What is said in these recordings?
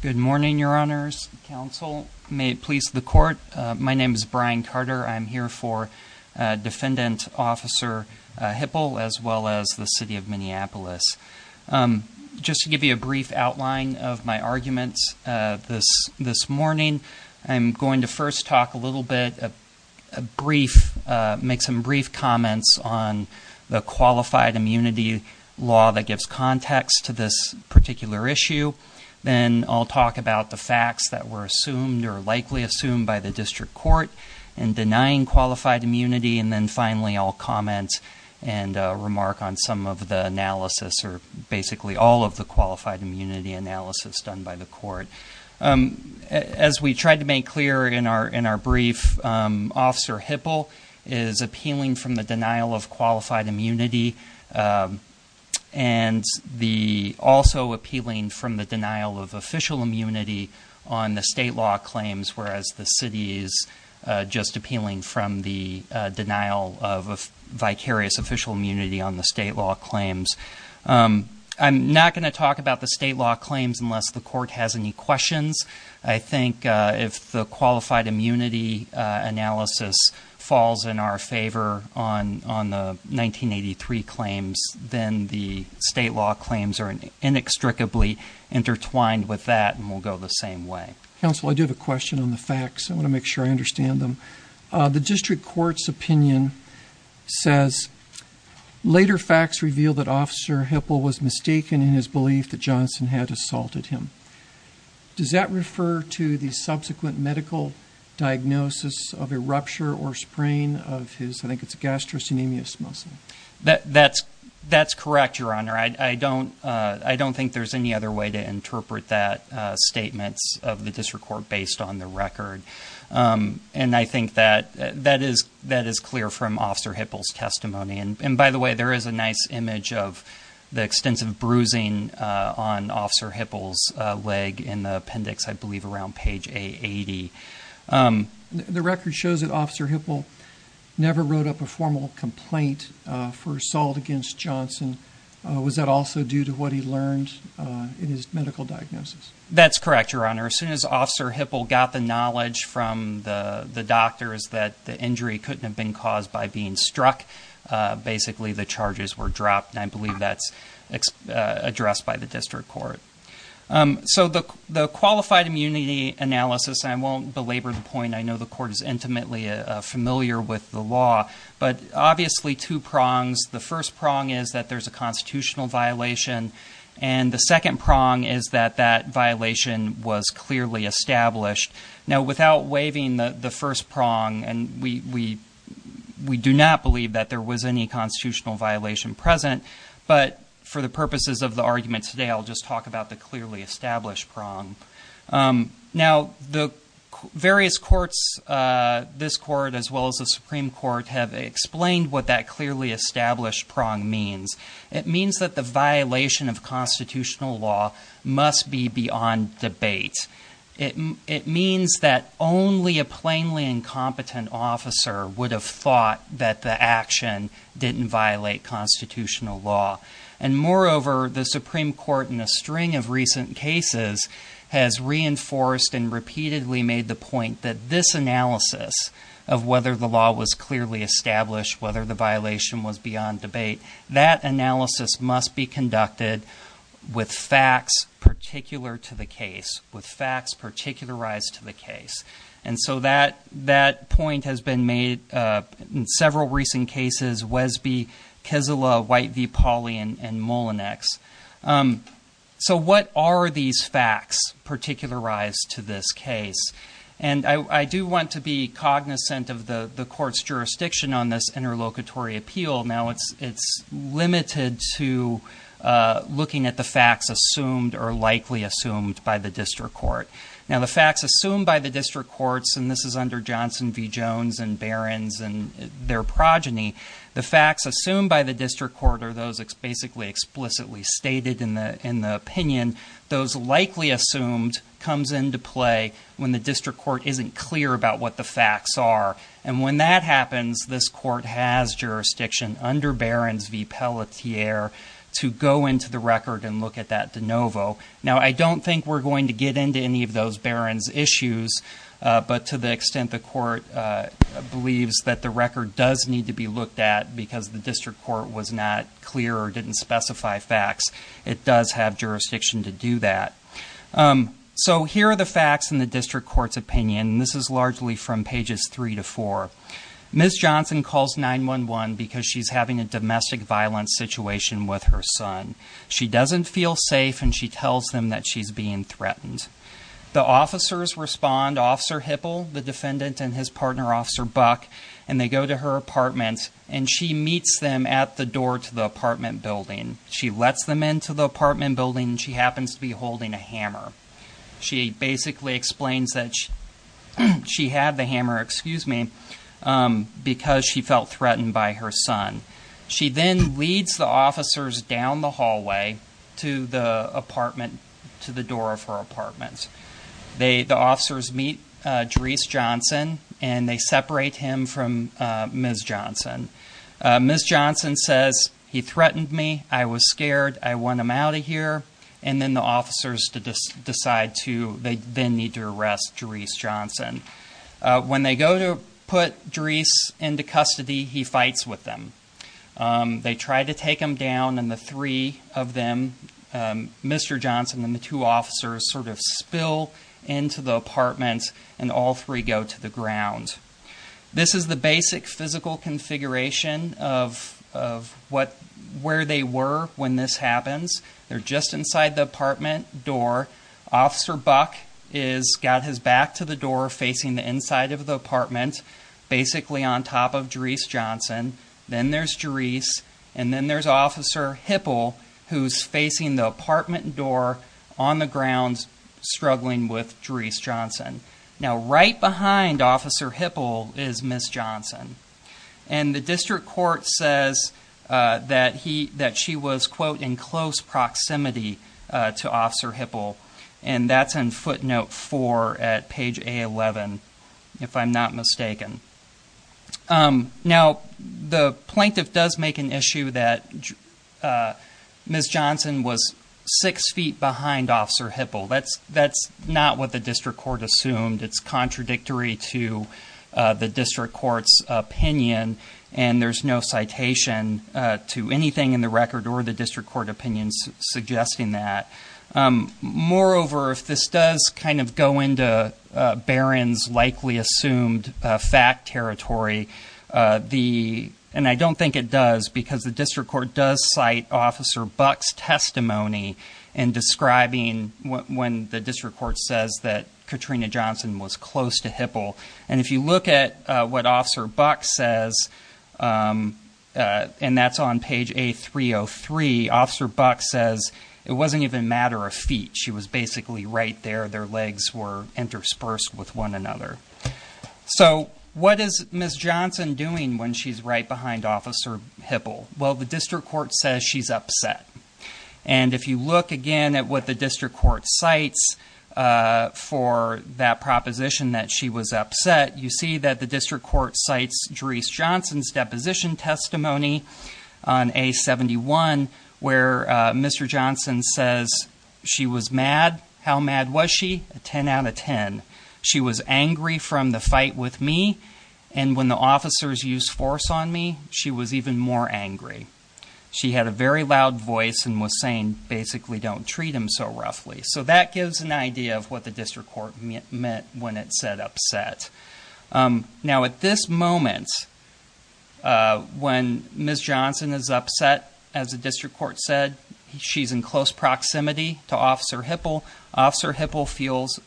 Good morning, your honors. Counsel, may it please the court. My name is Brian Carter. I'm here for Defendant Officer Hipple, as well as the City of Minneapolis. Just to give you a brief outline of my arguments this morning, I'm going to first talk a little bit, make some brief comments on the qualified immunity law that gives context to this issue. Then I'll talk about the facts that were assumed or likely assumed by the district court in denying qualified immunity. And then finally, I'll comment and remark on some of the analysis or basically all of the qualified immunity analysis done by the court. As we tried to make clear in our in our brief, Officer Hipple is appealing from the denial of qualified immunity and the also appealing from the denial of official immunity on the state law claims, whereas the city is just appealing from the denial of vicarious official immunity on the state law claims. I'm not going to talk about the state law claims unless the court has any questions. I think if the qualified immunity analysis falls in our favor on the 1983 claims, then the state law claims are inextricably intertwined with that and will go the same way. Counsel, I do have a question on the facts. I want to make sure I understand them. The district court's opinion says later facts reveal that Officer Hipple was mistaken in his subsequent medical diagnosis of a rupture or sprain of his gastrocnemius muscle. That's correct, Your Honor. I don't think there's any other way to interpret that statement of the district court based on the record. And I think that is clear from Officer Hipple's testimony. And by the way, there is a nice image of the extensive bruising on Officer Hipple's leg in the appendix, I believe, around page A80. The record shows that Officer Hipple never wrote up a formal complaint for assault against Johnson. Was that also due to what he learned in his medical diagnosis? That's correct, Your Honor. As soon as Officer Hipple got the knowledge from the doctors that the injury couldn't have been caused by being struck, basically the charges were dropped. I believe that's addressed by the district court. So the qualified immunity analysis, and I won't belabor the point, I know the court is intimately familiar with the law, but obviously two prongs. The first prong is that there's a constitutional violation. And the second prong is that that violation was clearly established. Now without waiving the first prong, and we do not believe that there was any constitutional violation present, but for the purposes of the argument today, I'll just talk about the clearly established prong. Now, the various courts, this court as well as the Supreme Court, have explained what that clearly established prong means. It means that the violation of constitutional law must be beyond debate. It means that only a plainly incompetent officer would have thought that the action didn't violate constitutional law. And moreover, the Supreme Court in a string of recent cases has reinforced and repeatedly made the point that this analysis of whether the law was clearly established, whether the violation was beyond debate, that analysis must be conducted with facts particular to the case, with facts particularized to the case. And so that point has been made in several recent cases, Wesby, Kesela, White v. Pauley, and Mullinex. So what are these facts particularized to this case? And I do want to be cognizant of the court's jurisdiction on this interlocutory appeal. Now it's limited to looking at the facts assumed or likely assumed by the district court. Now the facts assumed by the district courts, and this is under Johnson v. Jones and Behrens and their progeny, the facts assumed by the district court are those basically explicitly stated in the opinion. Those likely assumed comes into play when the district court isn't clear about what the facts are. And when that happens, this court has jurisdiction under Behrens v. Pelletier to go into the record and look at that de novo. Now I don't think we're going to get into any of those Behrens issues, but to the extent the court believes that the record does need to be looked at because the district court was not clear or didn't specify facts, it does have jurisdiction to do that. So here are the facts in the district court's opinion. This is largely from pages three to four. Ms. Johnson calls 911 because she's having a domestic violence situation with her son. She doesn't feel safe and she tells them that she's being threatened. The officers respond, Officer Hipple, the defendant, and his partner Officer Buck, and they go to her apartment and she meets them at the door to the apartment building. She lets them into the apartment building and she happens to be holding a hammer. She basically explains that she had the hammer because she felt threatened by her son. She then leads the officers down the hallway to the door of her apartment. The officers meet Drees Johnson and they separate him from Ms. Johnson. Ms. Johnson says, he threatened me, I was scared, I want him out of here, and then the officers decide to, they then need to arrest Drees Johnson. When they go to put Drees into custody, he fights with them. They try to take him down and the three of them, Mr. Johnson and the two officers sort of spill into the apartment and all three go to the ground. This is the basic physical configuration of where they were when this happens. They're just inside the apartment door. Officer Buck got his back to the door facing the inside of the apartment, basically on top of Drees Johnson. Then there's Drees and then there's Officer Hipple who's facing the apartment door on the ground struggling with Drees Johnson. Right behind Officer Hipple is Ms. Johnson. The district court says that she was, quote, in close proximity to Officer Hipple. That's in footnote four at page A11, if I'm not mistaken. The plaintiff does make an issue that Ms. Johnson was six feet behind Officer Hipple. It's contradictory to the district court's opinion and there's no citation to anything in the record or the district court opinions suggesting that. Moreover, if this does kind of go into Barron's likely assumed fact territory, and I don't think it does because the district court does cite Officer Buck's testimony in describing when the district court says that Katrina Johnson was close to Hipple. If you look at what Officer Buck says, and that's on page A303, Officer Buck says, it wasn't even a matter of feet. She was basically right there. Their legs were interspersed with one another. What is Ms. Johnson doing when she's right behind Officer Hipple? Well, the district court says she's upset. And if you look again at what the district court cites for that proposition that she was upset, you see that the district court cites Dreese Johnson's deposition testimony on A71 where Mr. Johnson says she was mad. How mad was she? A 10 out of 10. She was angry from the fight with me, and when the officers used force on me, she was even more angry. She had a very loud voice and was saying basically don't treat him so roughly. So that gives an idea of what the district court meant when it said upset. Now at this moment when Ms. Johnson is upset, as the district court said, she's in close proximity to Officer Hipple. Officer Hipple feels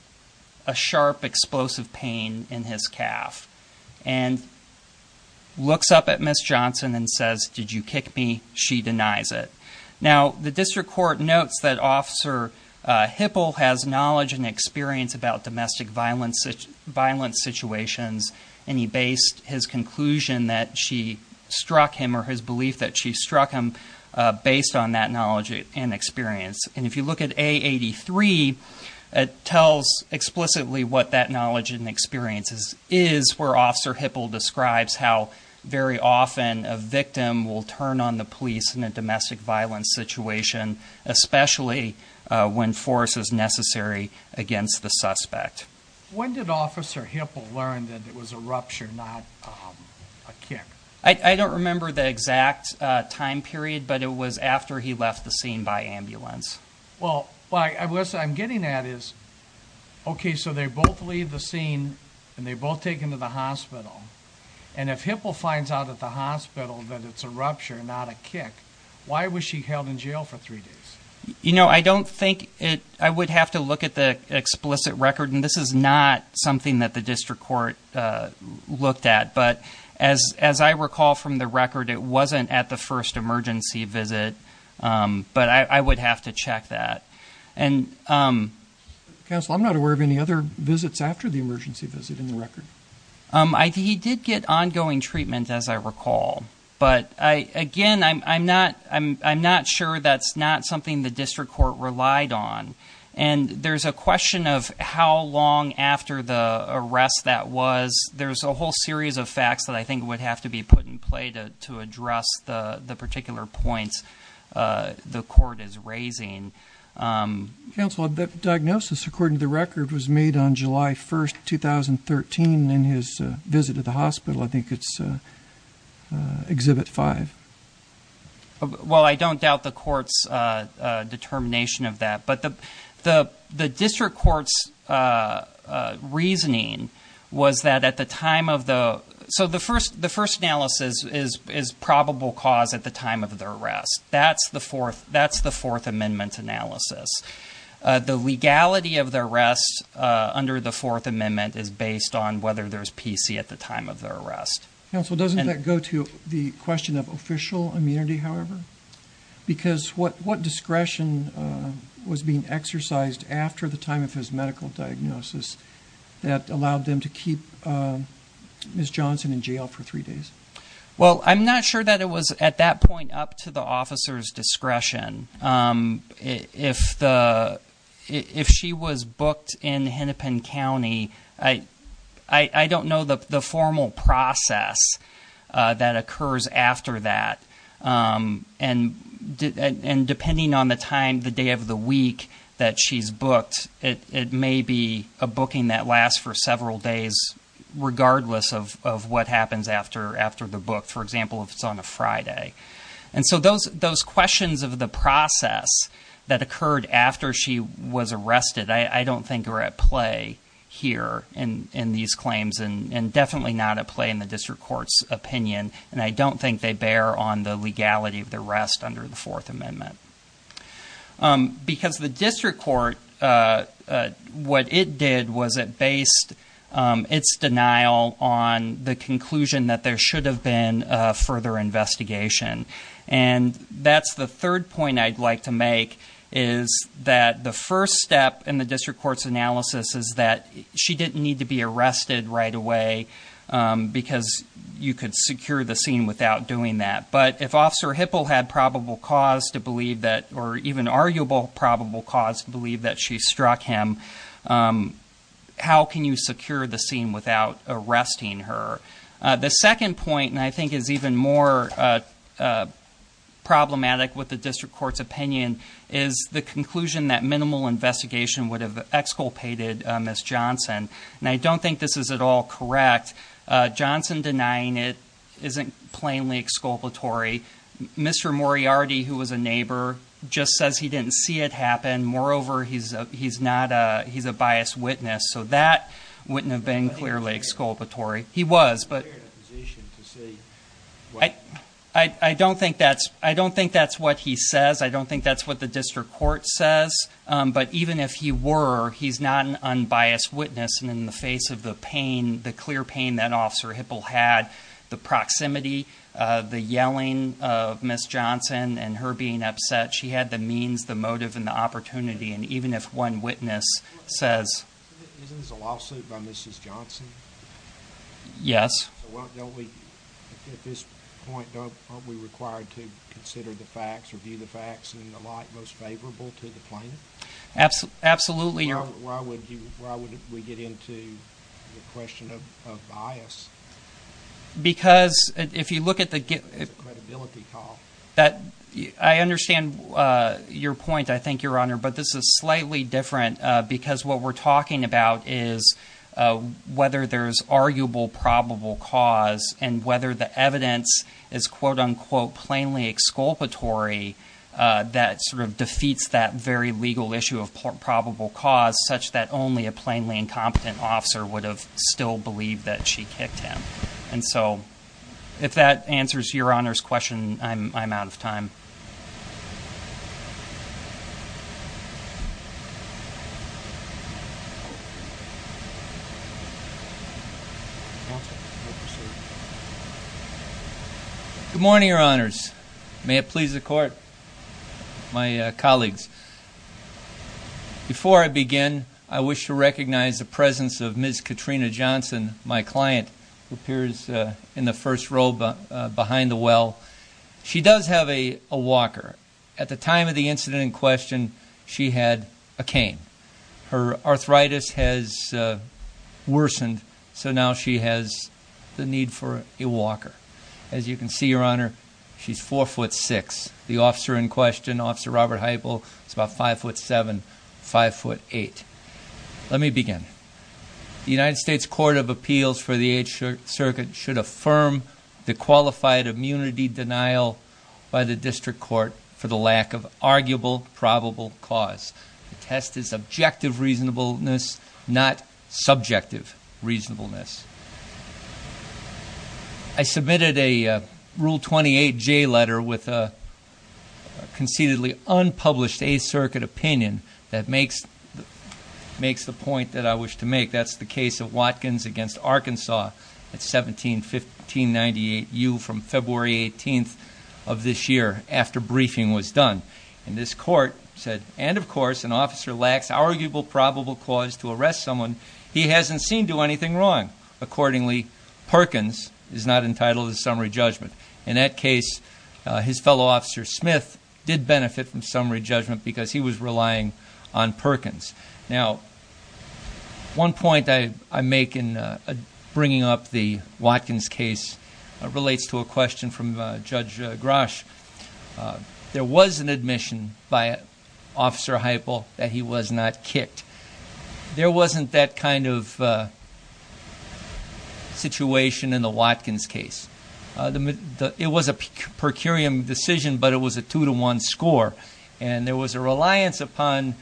a sharp explosive pain in his calf and looks up at Ms. Johnson and says, did you kick me? She denies it. Now, the district court notes that Officer Hipple has knowledge and experience about domestic violence situations, and he based his conclusion that she struck him or his belief that she struck him based on that knowledge and experience. And if you look at A83, it tells explicitly what that experience is, where Officer Hipple describes how very often a victim will turn on the police in a domestic violence situation, especially when force is necessary against the suspect. When did Officer Hipple learn that it was a rupture, not a kick? I don't remember the exact time period, but it was after he left the scene by ambulance. Well, what I'm getting at is, okay, so they both leave the scene and they both take him to the hospital. And if Hipple finds out at the hospital that it's a rupture, not a kick, why was she held in jail for three days? I would have to look at the explicit record, and this is not something that the district court looked at. But as I recall from the record, it wasn't at the first emergency visit, but I would have to check that. Counsel, I'm not aware of any other visits after the emergency visit in the record. He did get ongoing treatment, as I recall. But again, I'm not sure that's not something the district court relied on. And there's a question of how long after the arrest that was. There's a to be put in play to address the particular points the court is raising. Counsel, that diagnosis, according to the record, was made on July 1st, 2013, in his visit to the hospital. I think it's Exhibit 5. Well, I don't doubt the court's determination of that. But the district court's reasoning was that at the time of the... So the first analysis is probable cause at the time of the arrest. That's the Fourth Amendment analysis. The legality of the arrest under the Fourth Amendment is based on whether there's PC at the time of the arrest. Counsel, doesn't that go to the question of official immunity, however? Because what them to keep Ms. Johnson in jail for three days? Well, I'm not sure that it was at that point up to the officer's discretion. If she was booked in Hennepin County, I don't know the formal process that occurs after that. And depending on the time, the day of the week that she's booked, it may be a booking that lasts for several days, regardless of what happens after the book. For example, if it's on a Friday. And so those questions of the process that occurred after she was arrested, I don't think are at play here in these claims, and definitely not at play in the district court's opinion. And I don't think they bear on the legality of the arrest under the Fourth Amendment. Because the district court, what it did was it based its denial on the conclusion that there should have been a further investigation. And that's the third point I'd like to make, is that the first step in the district court's analysis is that she didn't need to be arrested right away because you could secure the scene without doing that. But if Officer Hipple had probable cause to believe that, or even arguable probable cause to believe that she struck him, how can you secure the scene without arresting her? The second point, and I think is even more problematic with the district court's opinion, is the conclusion that minimal investigation would have exculpated Ms. Johnson. And I don't think this is at all correct. Johnson denying it isn't plainly exculpatory. Mr. Moriarty, who was a neighbor, just says he didn't see it happen. Moreover, he's a biased witness, so that wouldn't have been clearly exculpatory. He was, but- I don't think that's what he says. I don't think that's what the district court says. But even if he were, he's not an unbiased witness. And in the face of the pain, the clear pain that proximity, the yelling of Ms. Johnson, and her being upset, she had the means, the motive, and the opportunity. And even if one witness says- Isn't this a lawsuit by Mrs. Johnson? Yes. At this point, aren't we required to consider the facts, review the facts, and the like most favorable to the plaintiff? Absolutely. Why would we get into the question of bias? Because if you look at the- It's a credibility call. That- I understand your point, I think, Your Honor, but this is slightly different because what we're talking about is whether there's arguable probable cause and whether the evidence is quote unquote plainly exculpatory that sort of defeats that very legal issue of probable cause such that only a plainly incompetent officer would have still believed that she kicked him. And so if that answers Your Honor's question, I'm out of time. Thank you. Good morning, Your Honors. May it please the court, my colleagues. Before I begin, I wish to recognize the presence of Ms. Katrina Johnson, my client, who appears in the first row behind the well. She does have a walker. At the time of the incident in question, she had a cane. Her arthritis has worsened, so now she has the need for a walker. As you can see, Your Honor, she's four foot six. The officer in question, Officer Robert Heupel, is about five foot seven, five foot eight. Let me begin. The United States Court of Appeals for the Eighth Circuit should affirm the qualified immunity denial by the district court for the lack of arguable probable cause. The test is objective reasonableness, not subjective reasonableness. I submitted a Rule 28J letter with a concededly unpublished Eighth Circuit opinion that makes makes the point that I wish to make. That's the case of Watkins against Arkansas at 17-1598U from February 18th of this year after briefing was done. And this court said, and of course, an officer lacks arguable probable cause to arrest someone he hasn't seen do anything wrong. Accordingly, Perkins is not entitled to summary judgment. In that case, his fellow officer Smith did benefit from summary judgment because he was relying on Perkins. Now, one point I make in bringing up the Watkins case relates to a question from Judge Grosh. There was an admission by Officer Heupel that he was not kicked. There wasn't that kind of score. And there was a reliance upon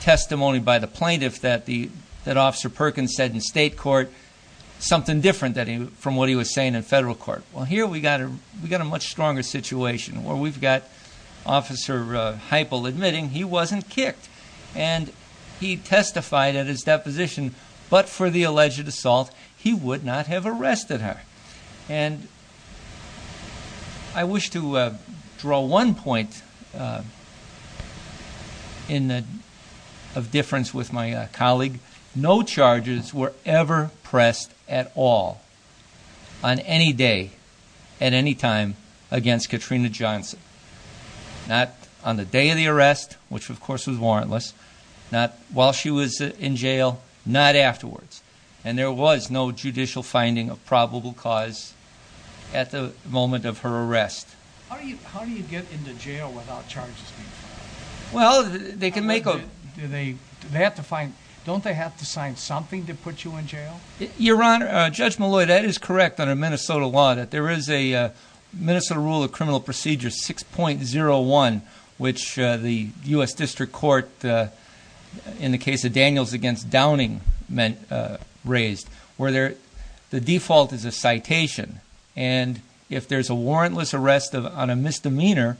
testimony by the plaintiff that Officer Perkins said in state court something different from what he was saying in federal court. Well, here we got a much stronger situation where we've got Officer Heupel admitting he wasn't kicked and he testified at his one point of difference with my colleague, no charges were ever pressed at all on any day, at any time against Katrina Johnson. Not on the day of the arrest, which of course was warrantless, not while she was in jail, not afterwards. And there was no judicial finding of probable cause at the moment of her arrest. How do you, how do you get into jail without charges? Well, they can make, do they, they have to find, don't they have to sign something to put you in jail? Your Honor, Judge Malloy, that is correct under Minnesota law that there is a Minnesota rule of criminal procedure 6.01, which the U.S. District Court, in the case of Daniels against Downing, raised where there, the default is a citation. And if there's a warrantless arrest on a misdemeanor,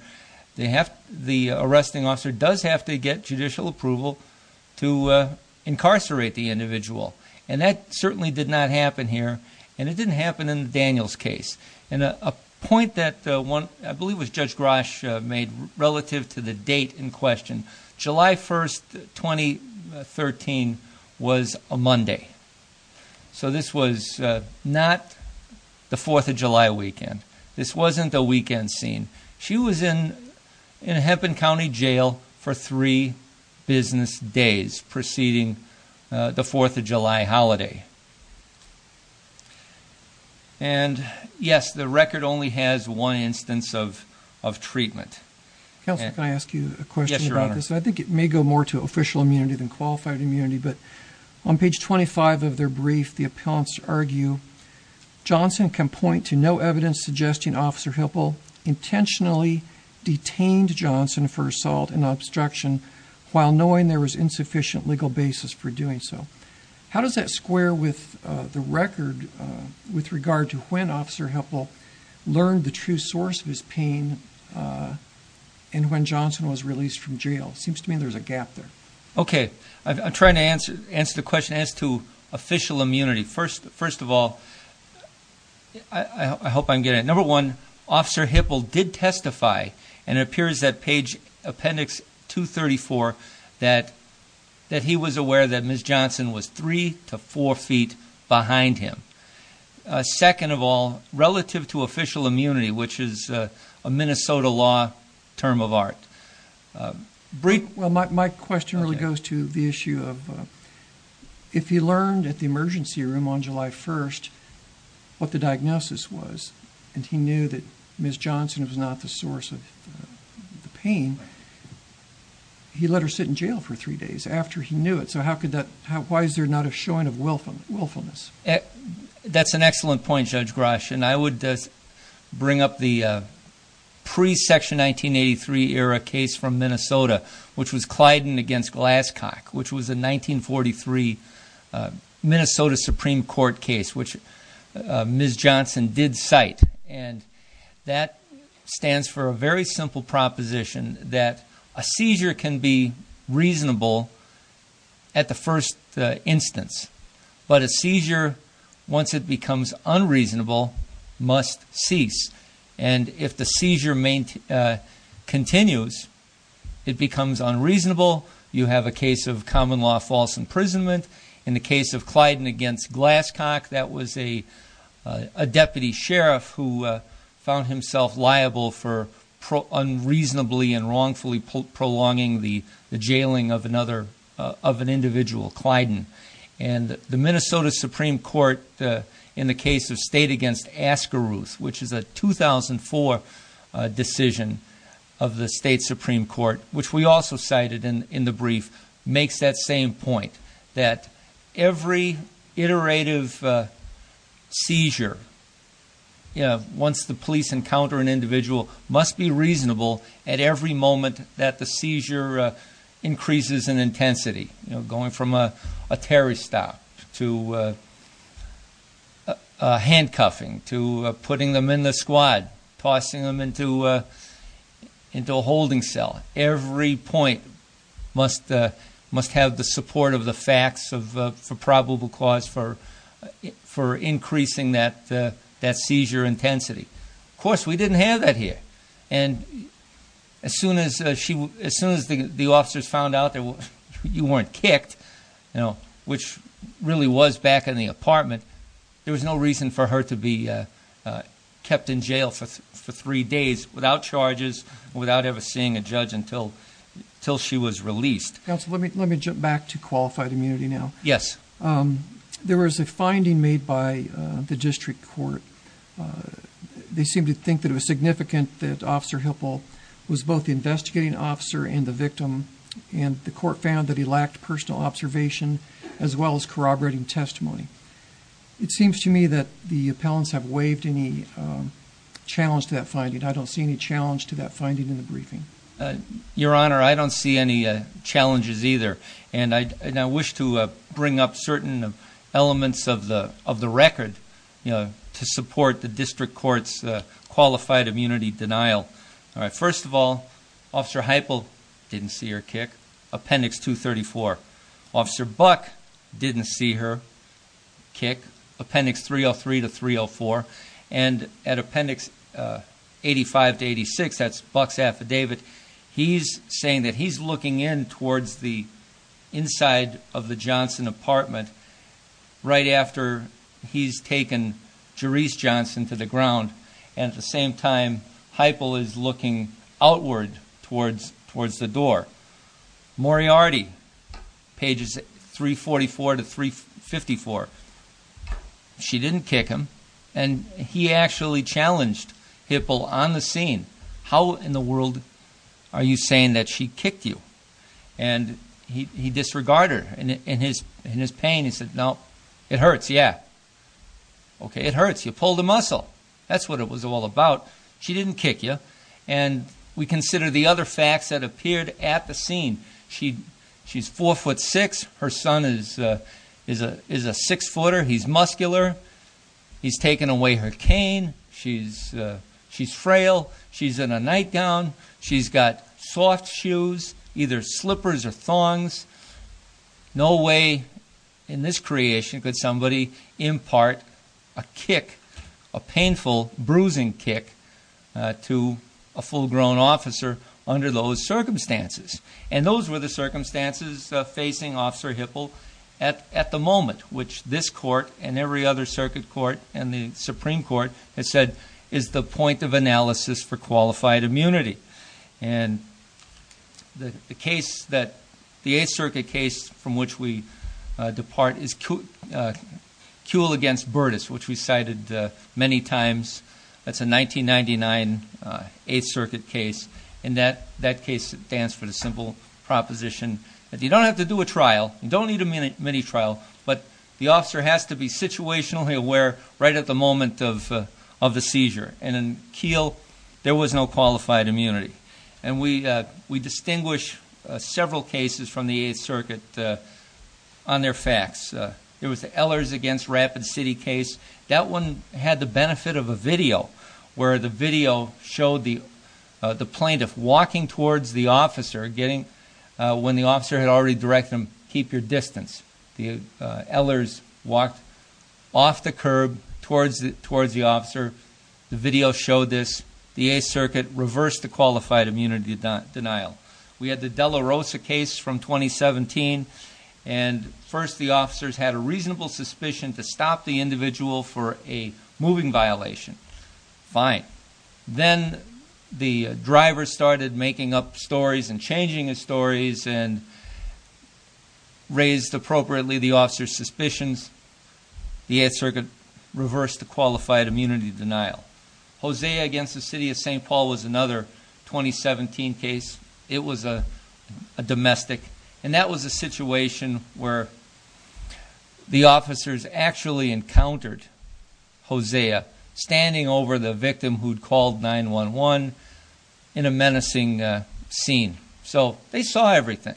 they have, the arresting officer does have to get judicial approval to incarcerate the individual. And that certainly did not happen here. And it didn't happen in Daniels case. And a point that one, I believe was Judge Grosh made relative to the date in question, July 1st, 2013 was a Monday. So this was not the 4th of July weekend. This wasn't a weekend scene. She was in, in Hepburn County Jail for three business days preceding the 4th of July holiday. And yes, the record only has one instance of, of treatment. Counsel, can I ask you a question about this? I think it may go more to official immunity than qualified immunity, but on page 25 of their brief, the appellants argue, Johnson can point to no evidence suggesting Officer Hipple intentionally detained Johnson for assault and obstruction while knowing there was insufficient legal basis for doing so. How does that square with the record with regard to when Officer Hipple learned the source of his pain and when Johnson was released from jail? It seems to me there's a gap there. Okay. I'm trying to answer, answer the question as to official immunity. First, first of all, I hope I'm getting it. Number one, Officer Hipple did testify and it appears that page appendix 234, that, that he was aware that Ms. Johnson was three to four feet behind him. Second of all, relative to official immunity, which is a Minnesota law term of art, brief. Well, my question really goes to the issue of if he learned at the emergency room on July 1st, what the diagnosis was, and he knew that Ms. Johnson was not the source of the pain, he let her sit in jail for three days after he knew it. So how could that, why is there not a showing of willfulness? That's an excellent point, Judge Grosh. And I would bring up the pre-Section 1983 era case from Minnesota, which was Clyden against Glasscock, which was a 1943 Minnesota Supreme Court case, which Ms. Johnson did cite. And that stands for a very simple proposition that a seizure can be reasonable at the first instance, but a seizure, once it becomes unreasonable, must cease. And if the seizure continues, it becomes unreasonable. You have a case of common law false imprisonment. In the case of Clyden against Glasscock, that was a deputy sheriff who found himself liable for unreasonably and wrongfully prolonging the jailing of another, of an individual, Clyden. And the Minnesota Supreme Court, in the case of state against Askeruth, which is a 2004 decision of the state Supreme Court, which we also cited in the makes that same point, that every iterative seizure, once the police encounter an individual, must be reasonable at every moment that the seizure increases in intensity, going from a terry stop to handcuffing, to putting them in the squad, tossing them into a holding cell. Every point must have the support of the facts for probable cause for increasing that seizure intensity. Of course, we didn't have that here. And as soon as the officers found out that you weren't kicked, which really was back in the apartment, there was no reason for her to be until she was released. Counsel, let me jump back to qualified immunity now. Yes. There was a finding made by the district court. They seemed to think that it was significant that Officer Hipple was both the investigating officer and the victim, and the court found that he lacked personal observation as well as corroborating testimony. It seems to me that the appellants have waived any challenge to that finding. I don't see any challenge to that finding in the briefing. Your Honor, I don't see any challenges either. And I wish to bring up certain elements of the record to support the district court's qualified immunity denial. First of all, Officer Hipple didn't see her kick, Appendix 234. Officer Buck didn't see her kick, Appendix 303 to 304. And at Appendix 85 to 86, that's Buck's affidavit, he's saying that he's looking in towards the inside of the Johnson apartment right after he's taken Jerese Johnson to the ground. And at the same time, Hipple is looking outward towards the door. Moriarty, pages 344 to 354, she didn't kick him. And he actually challenged Hipple on the scene, how in the world are you saying that she kicked you? And he disregarded in his pain, he said, no, it hurts, yeah. Okay, it hurts, you pulled a muscle. That's what it was all about. She didn't kick you. And we consider the other facts that appeared at the scene. She's four foot six, her son is a six footer, he's muscular, he's taken away her cane, she's frail, she's in a nightgown, she's got soft shoes, either slippers or thongs. No way in this creation could somebody impart a kick, a painful bruising kick to a full grown officer under those circumstances. And those were the circumstances facing Officer Hipple at the moment, which this court and every other circuit court and the Supreme Court has said is the point of analysis for qualified immunity. And the case that the Eighth Circuit case from which we depart is Kuehl against Burtis, which we cited many times. That's a 1999 Eighth Circuit case. In that case, it stands for the simple proposition that you don't have to do a trial, you don't need a mini trial, but the officer has to be situationally aware right at the moment of the seizure. And in Kuehl, there was no qualified immunity. And we distinguish several cases from the Eighth Circuit on their facts. There was the Ehlers against Rapid City case. That one had the benefit of a video, where the video showed the plaintiff walking towards the officer, when the officer had already directed them, keep your distance. The Ehlers walked off the curb towards the officer. The video showed this. The Eighth Circuit reversed the qualified immunity denial. We had the De La Rosa case from 2017, and first the officers had a reasonable suspicion to stop the individual for a moving violation. Fine. Then the driver started making up stories and changing his stories and raised appropriately the officer's suspicions. The Eighth Circuit reversed the qualified immunity denial. Hosea against the City of St. Paul was another 2017 case. It was a domestic. And that was a situation where the officers actually encountered Hosea standing over the victim who'd called 911 in a menacing scene. So they saw everything.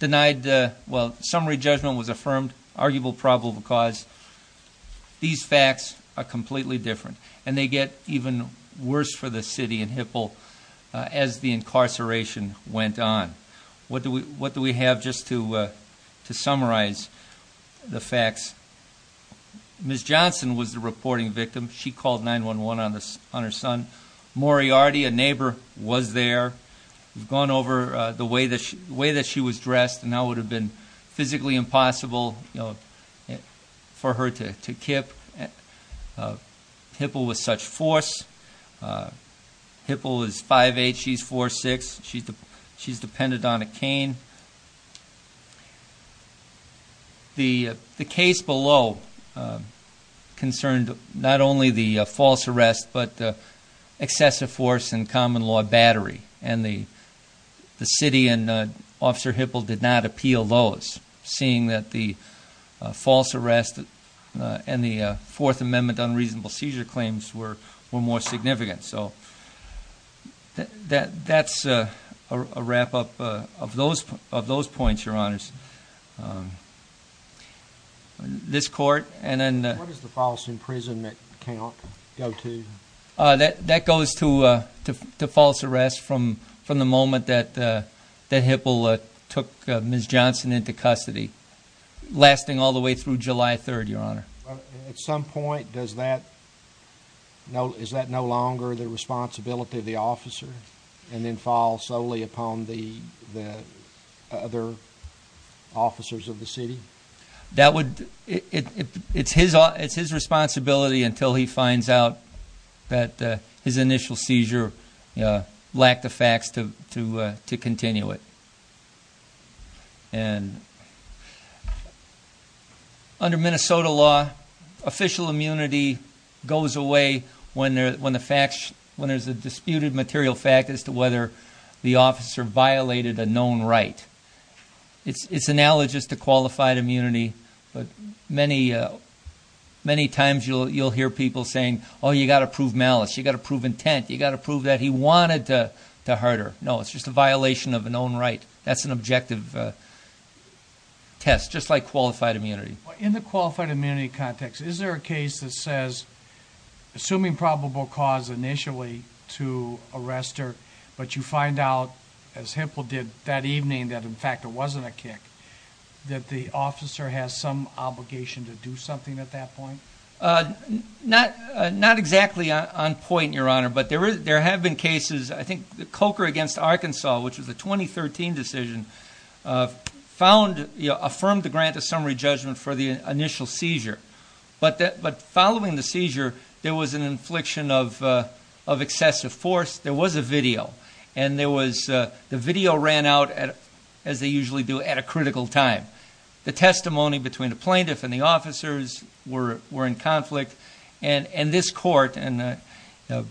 Summary judgment was affirmed, arguable probable cause. These facts are completely different. And they get even worse for the city and Hipple as the incarceration went on. What do we have just to summarize the facts? Ms. Johnson was the reporting victim. She called 911 on her son. Moriarty, a neighbor, was there. We've gone over the way that she was dressed and how it would have been Hipple is 5'8", she's 4'6". She's depended on a cane. The case below concerned not only the false arrest but excessive force and common law battery, and the city and Officer Hipple did not appeal those, seeing that the false arrest and the false imprisonment account go to? That goes to false arrest from the moment that Hipple took Ms. Johnson into custody, lasting all the way through July 3rd, Your Honor. At some point, is that no longer the responsibility of the officer, and then fall solely upon the other officers of the city? It's his responsibility until he finds out that his initial seizure lacked the facts to continue it. And under Minnesota law, official immunity goes away when there's a disputed material fact as to whether the officer violated a known right. It's analogous to qualified immunity, but many times you'll hear people saying, oh, you got to prove malice, you got to prove intent, you got to prove that he wanted to hurt her. No, it's just a violation of a known right. That's an objective test, just like qualified immunity. In the qualified immunity context, is there a case that says, assuming probable cause initially to arrest her, but you find out, as Hipple did that evening, that in fact it wasn't a kick, that the officer has some obligation to do something at that point? Not exactly on point, Your Honor, but there have been cases, I think the Coker against Arkansas, which was a 2013 decision, affirmed the grant of summary judgment for the initial seizure. But following the seizure, there was an infliction of excessive force. There was a video, and the video ran out, as they usually do, at a critical time. The testimony between the plaintiff and the officers were in conflict, and this court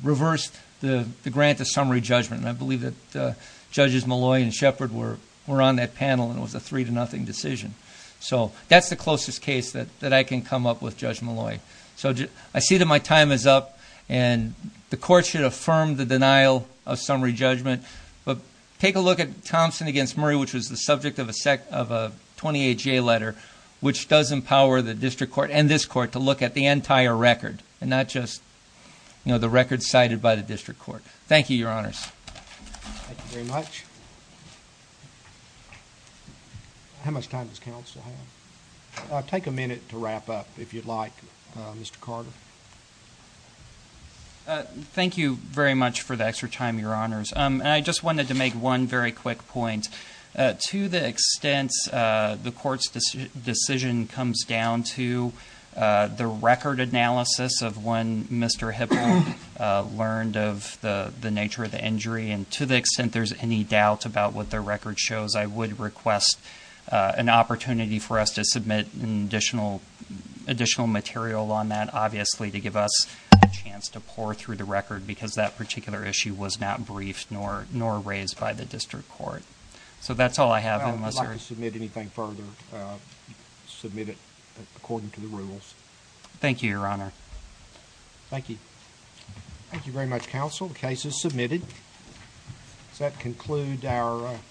reversed the grant of summary judgment. And I believe that Judges Molloy and Shepard were on that panel, and it was a three to nothing decision. So that's the closest case that I can come up with, Judge Molloy. So I see that my time is up, and the court should affirm the denial of summary judgment. But take a look at Thompson against Murray, which was the subject of a 28-J letter, which does empower the district court, and this court, to look at the entire record, and not just the record cited by the district court. Thank you, Your Honors. Thank you very much. How much time does counsel have? Take a minute to wrap up, if you'd like, Mr. Carter. Thank you very much for the extra time, Your Honors. And I just wanted to make one very quick point. To the extent the court's decision comes down to the record analysis of when Mr. Hipple learned of the nature of the injury, and to the extent there's any doubt about what the record shows, I would request an opportunity for us to submit additional material on that, obviously, to give us a chance to pour through the record, because that particular issue was not briefed nor raised by the district court. So that's all I have. I'd like to submit anything further, submit it according to the rules. Thank you, Your Honor. Thank you. Thank you very much, counsel. The case is submitted. Does that conclude our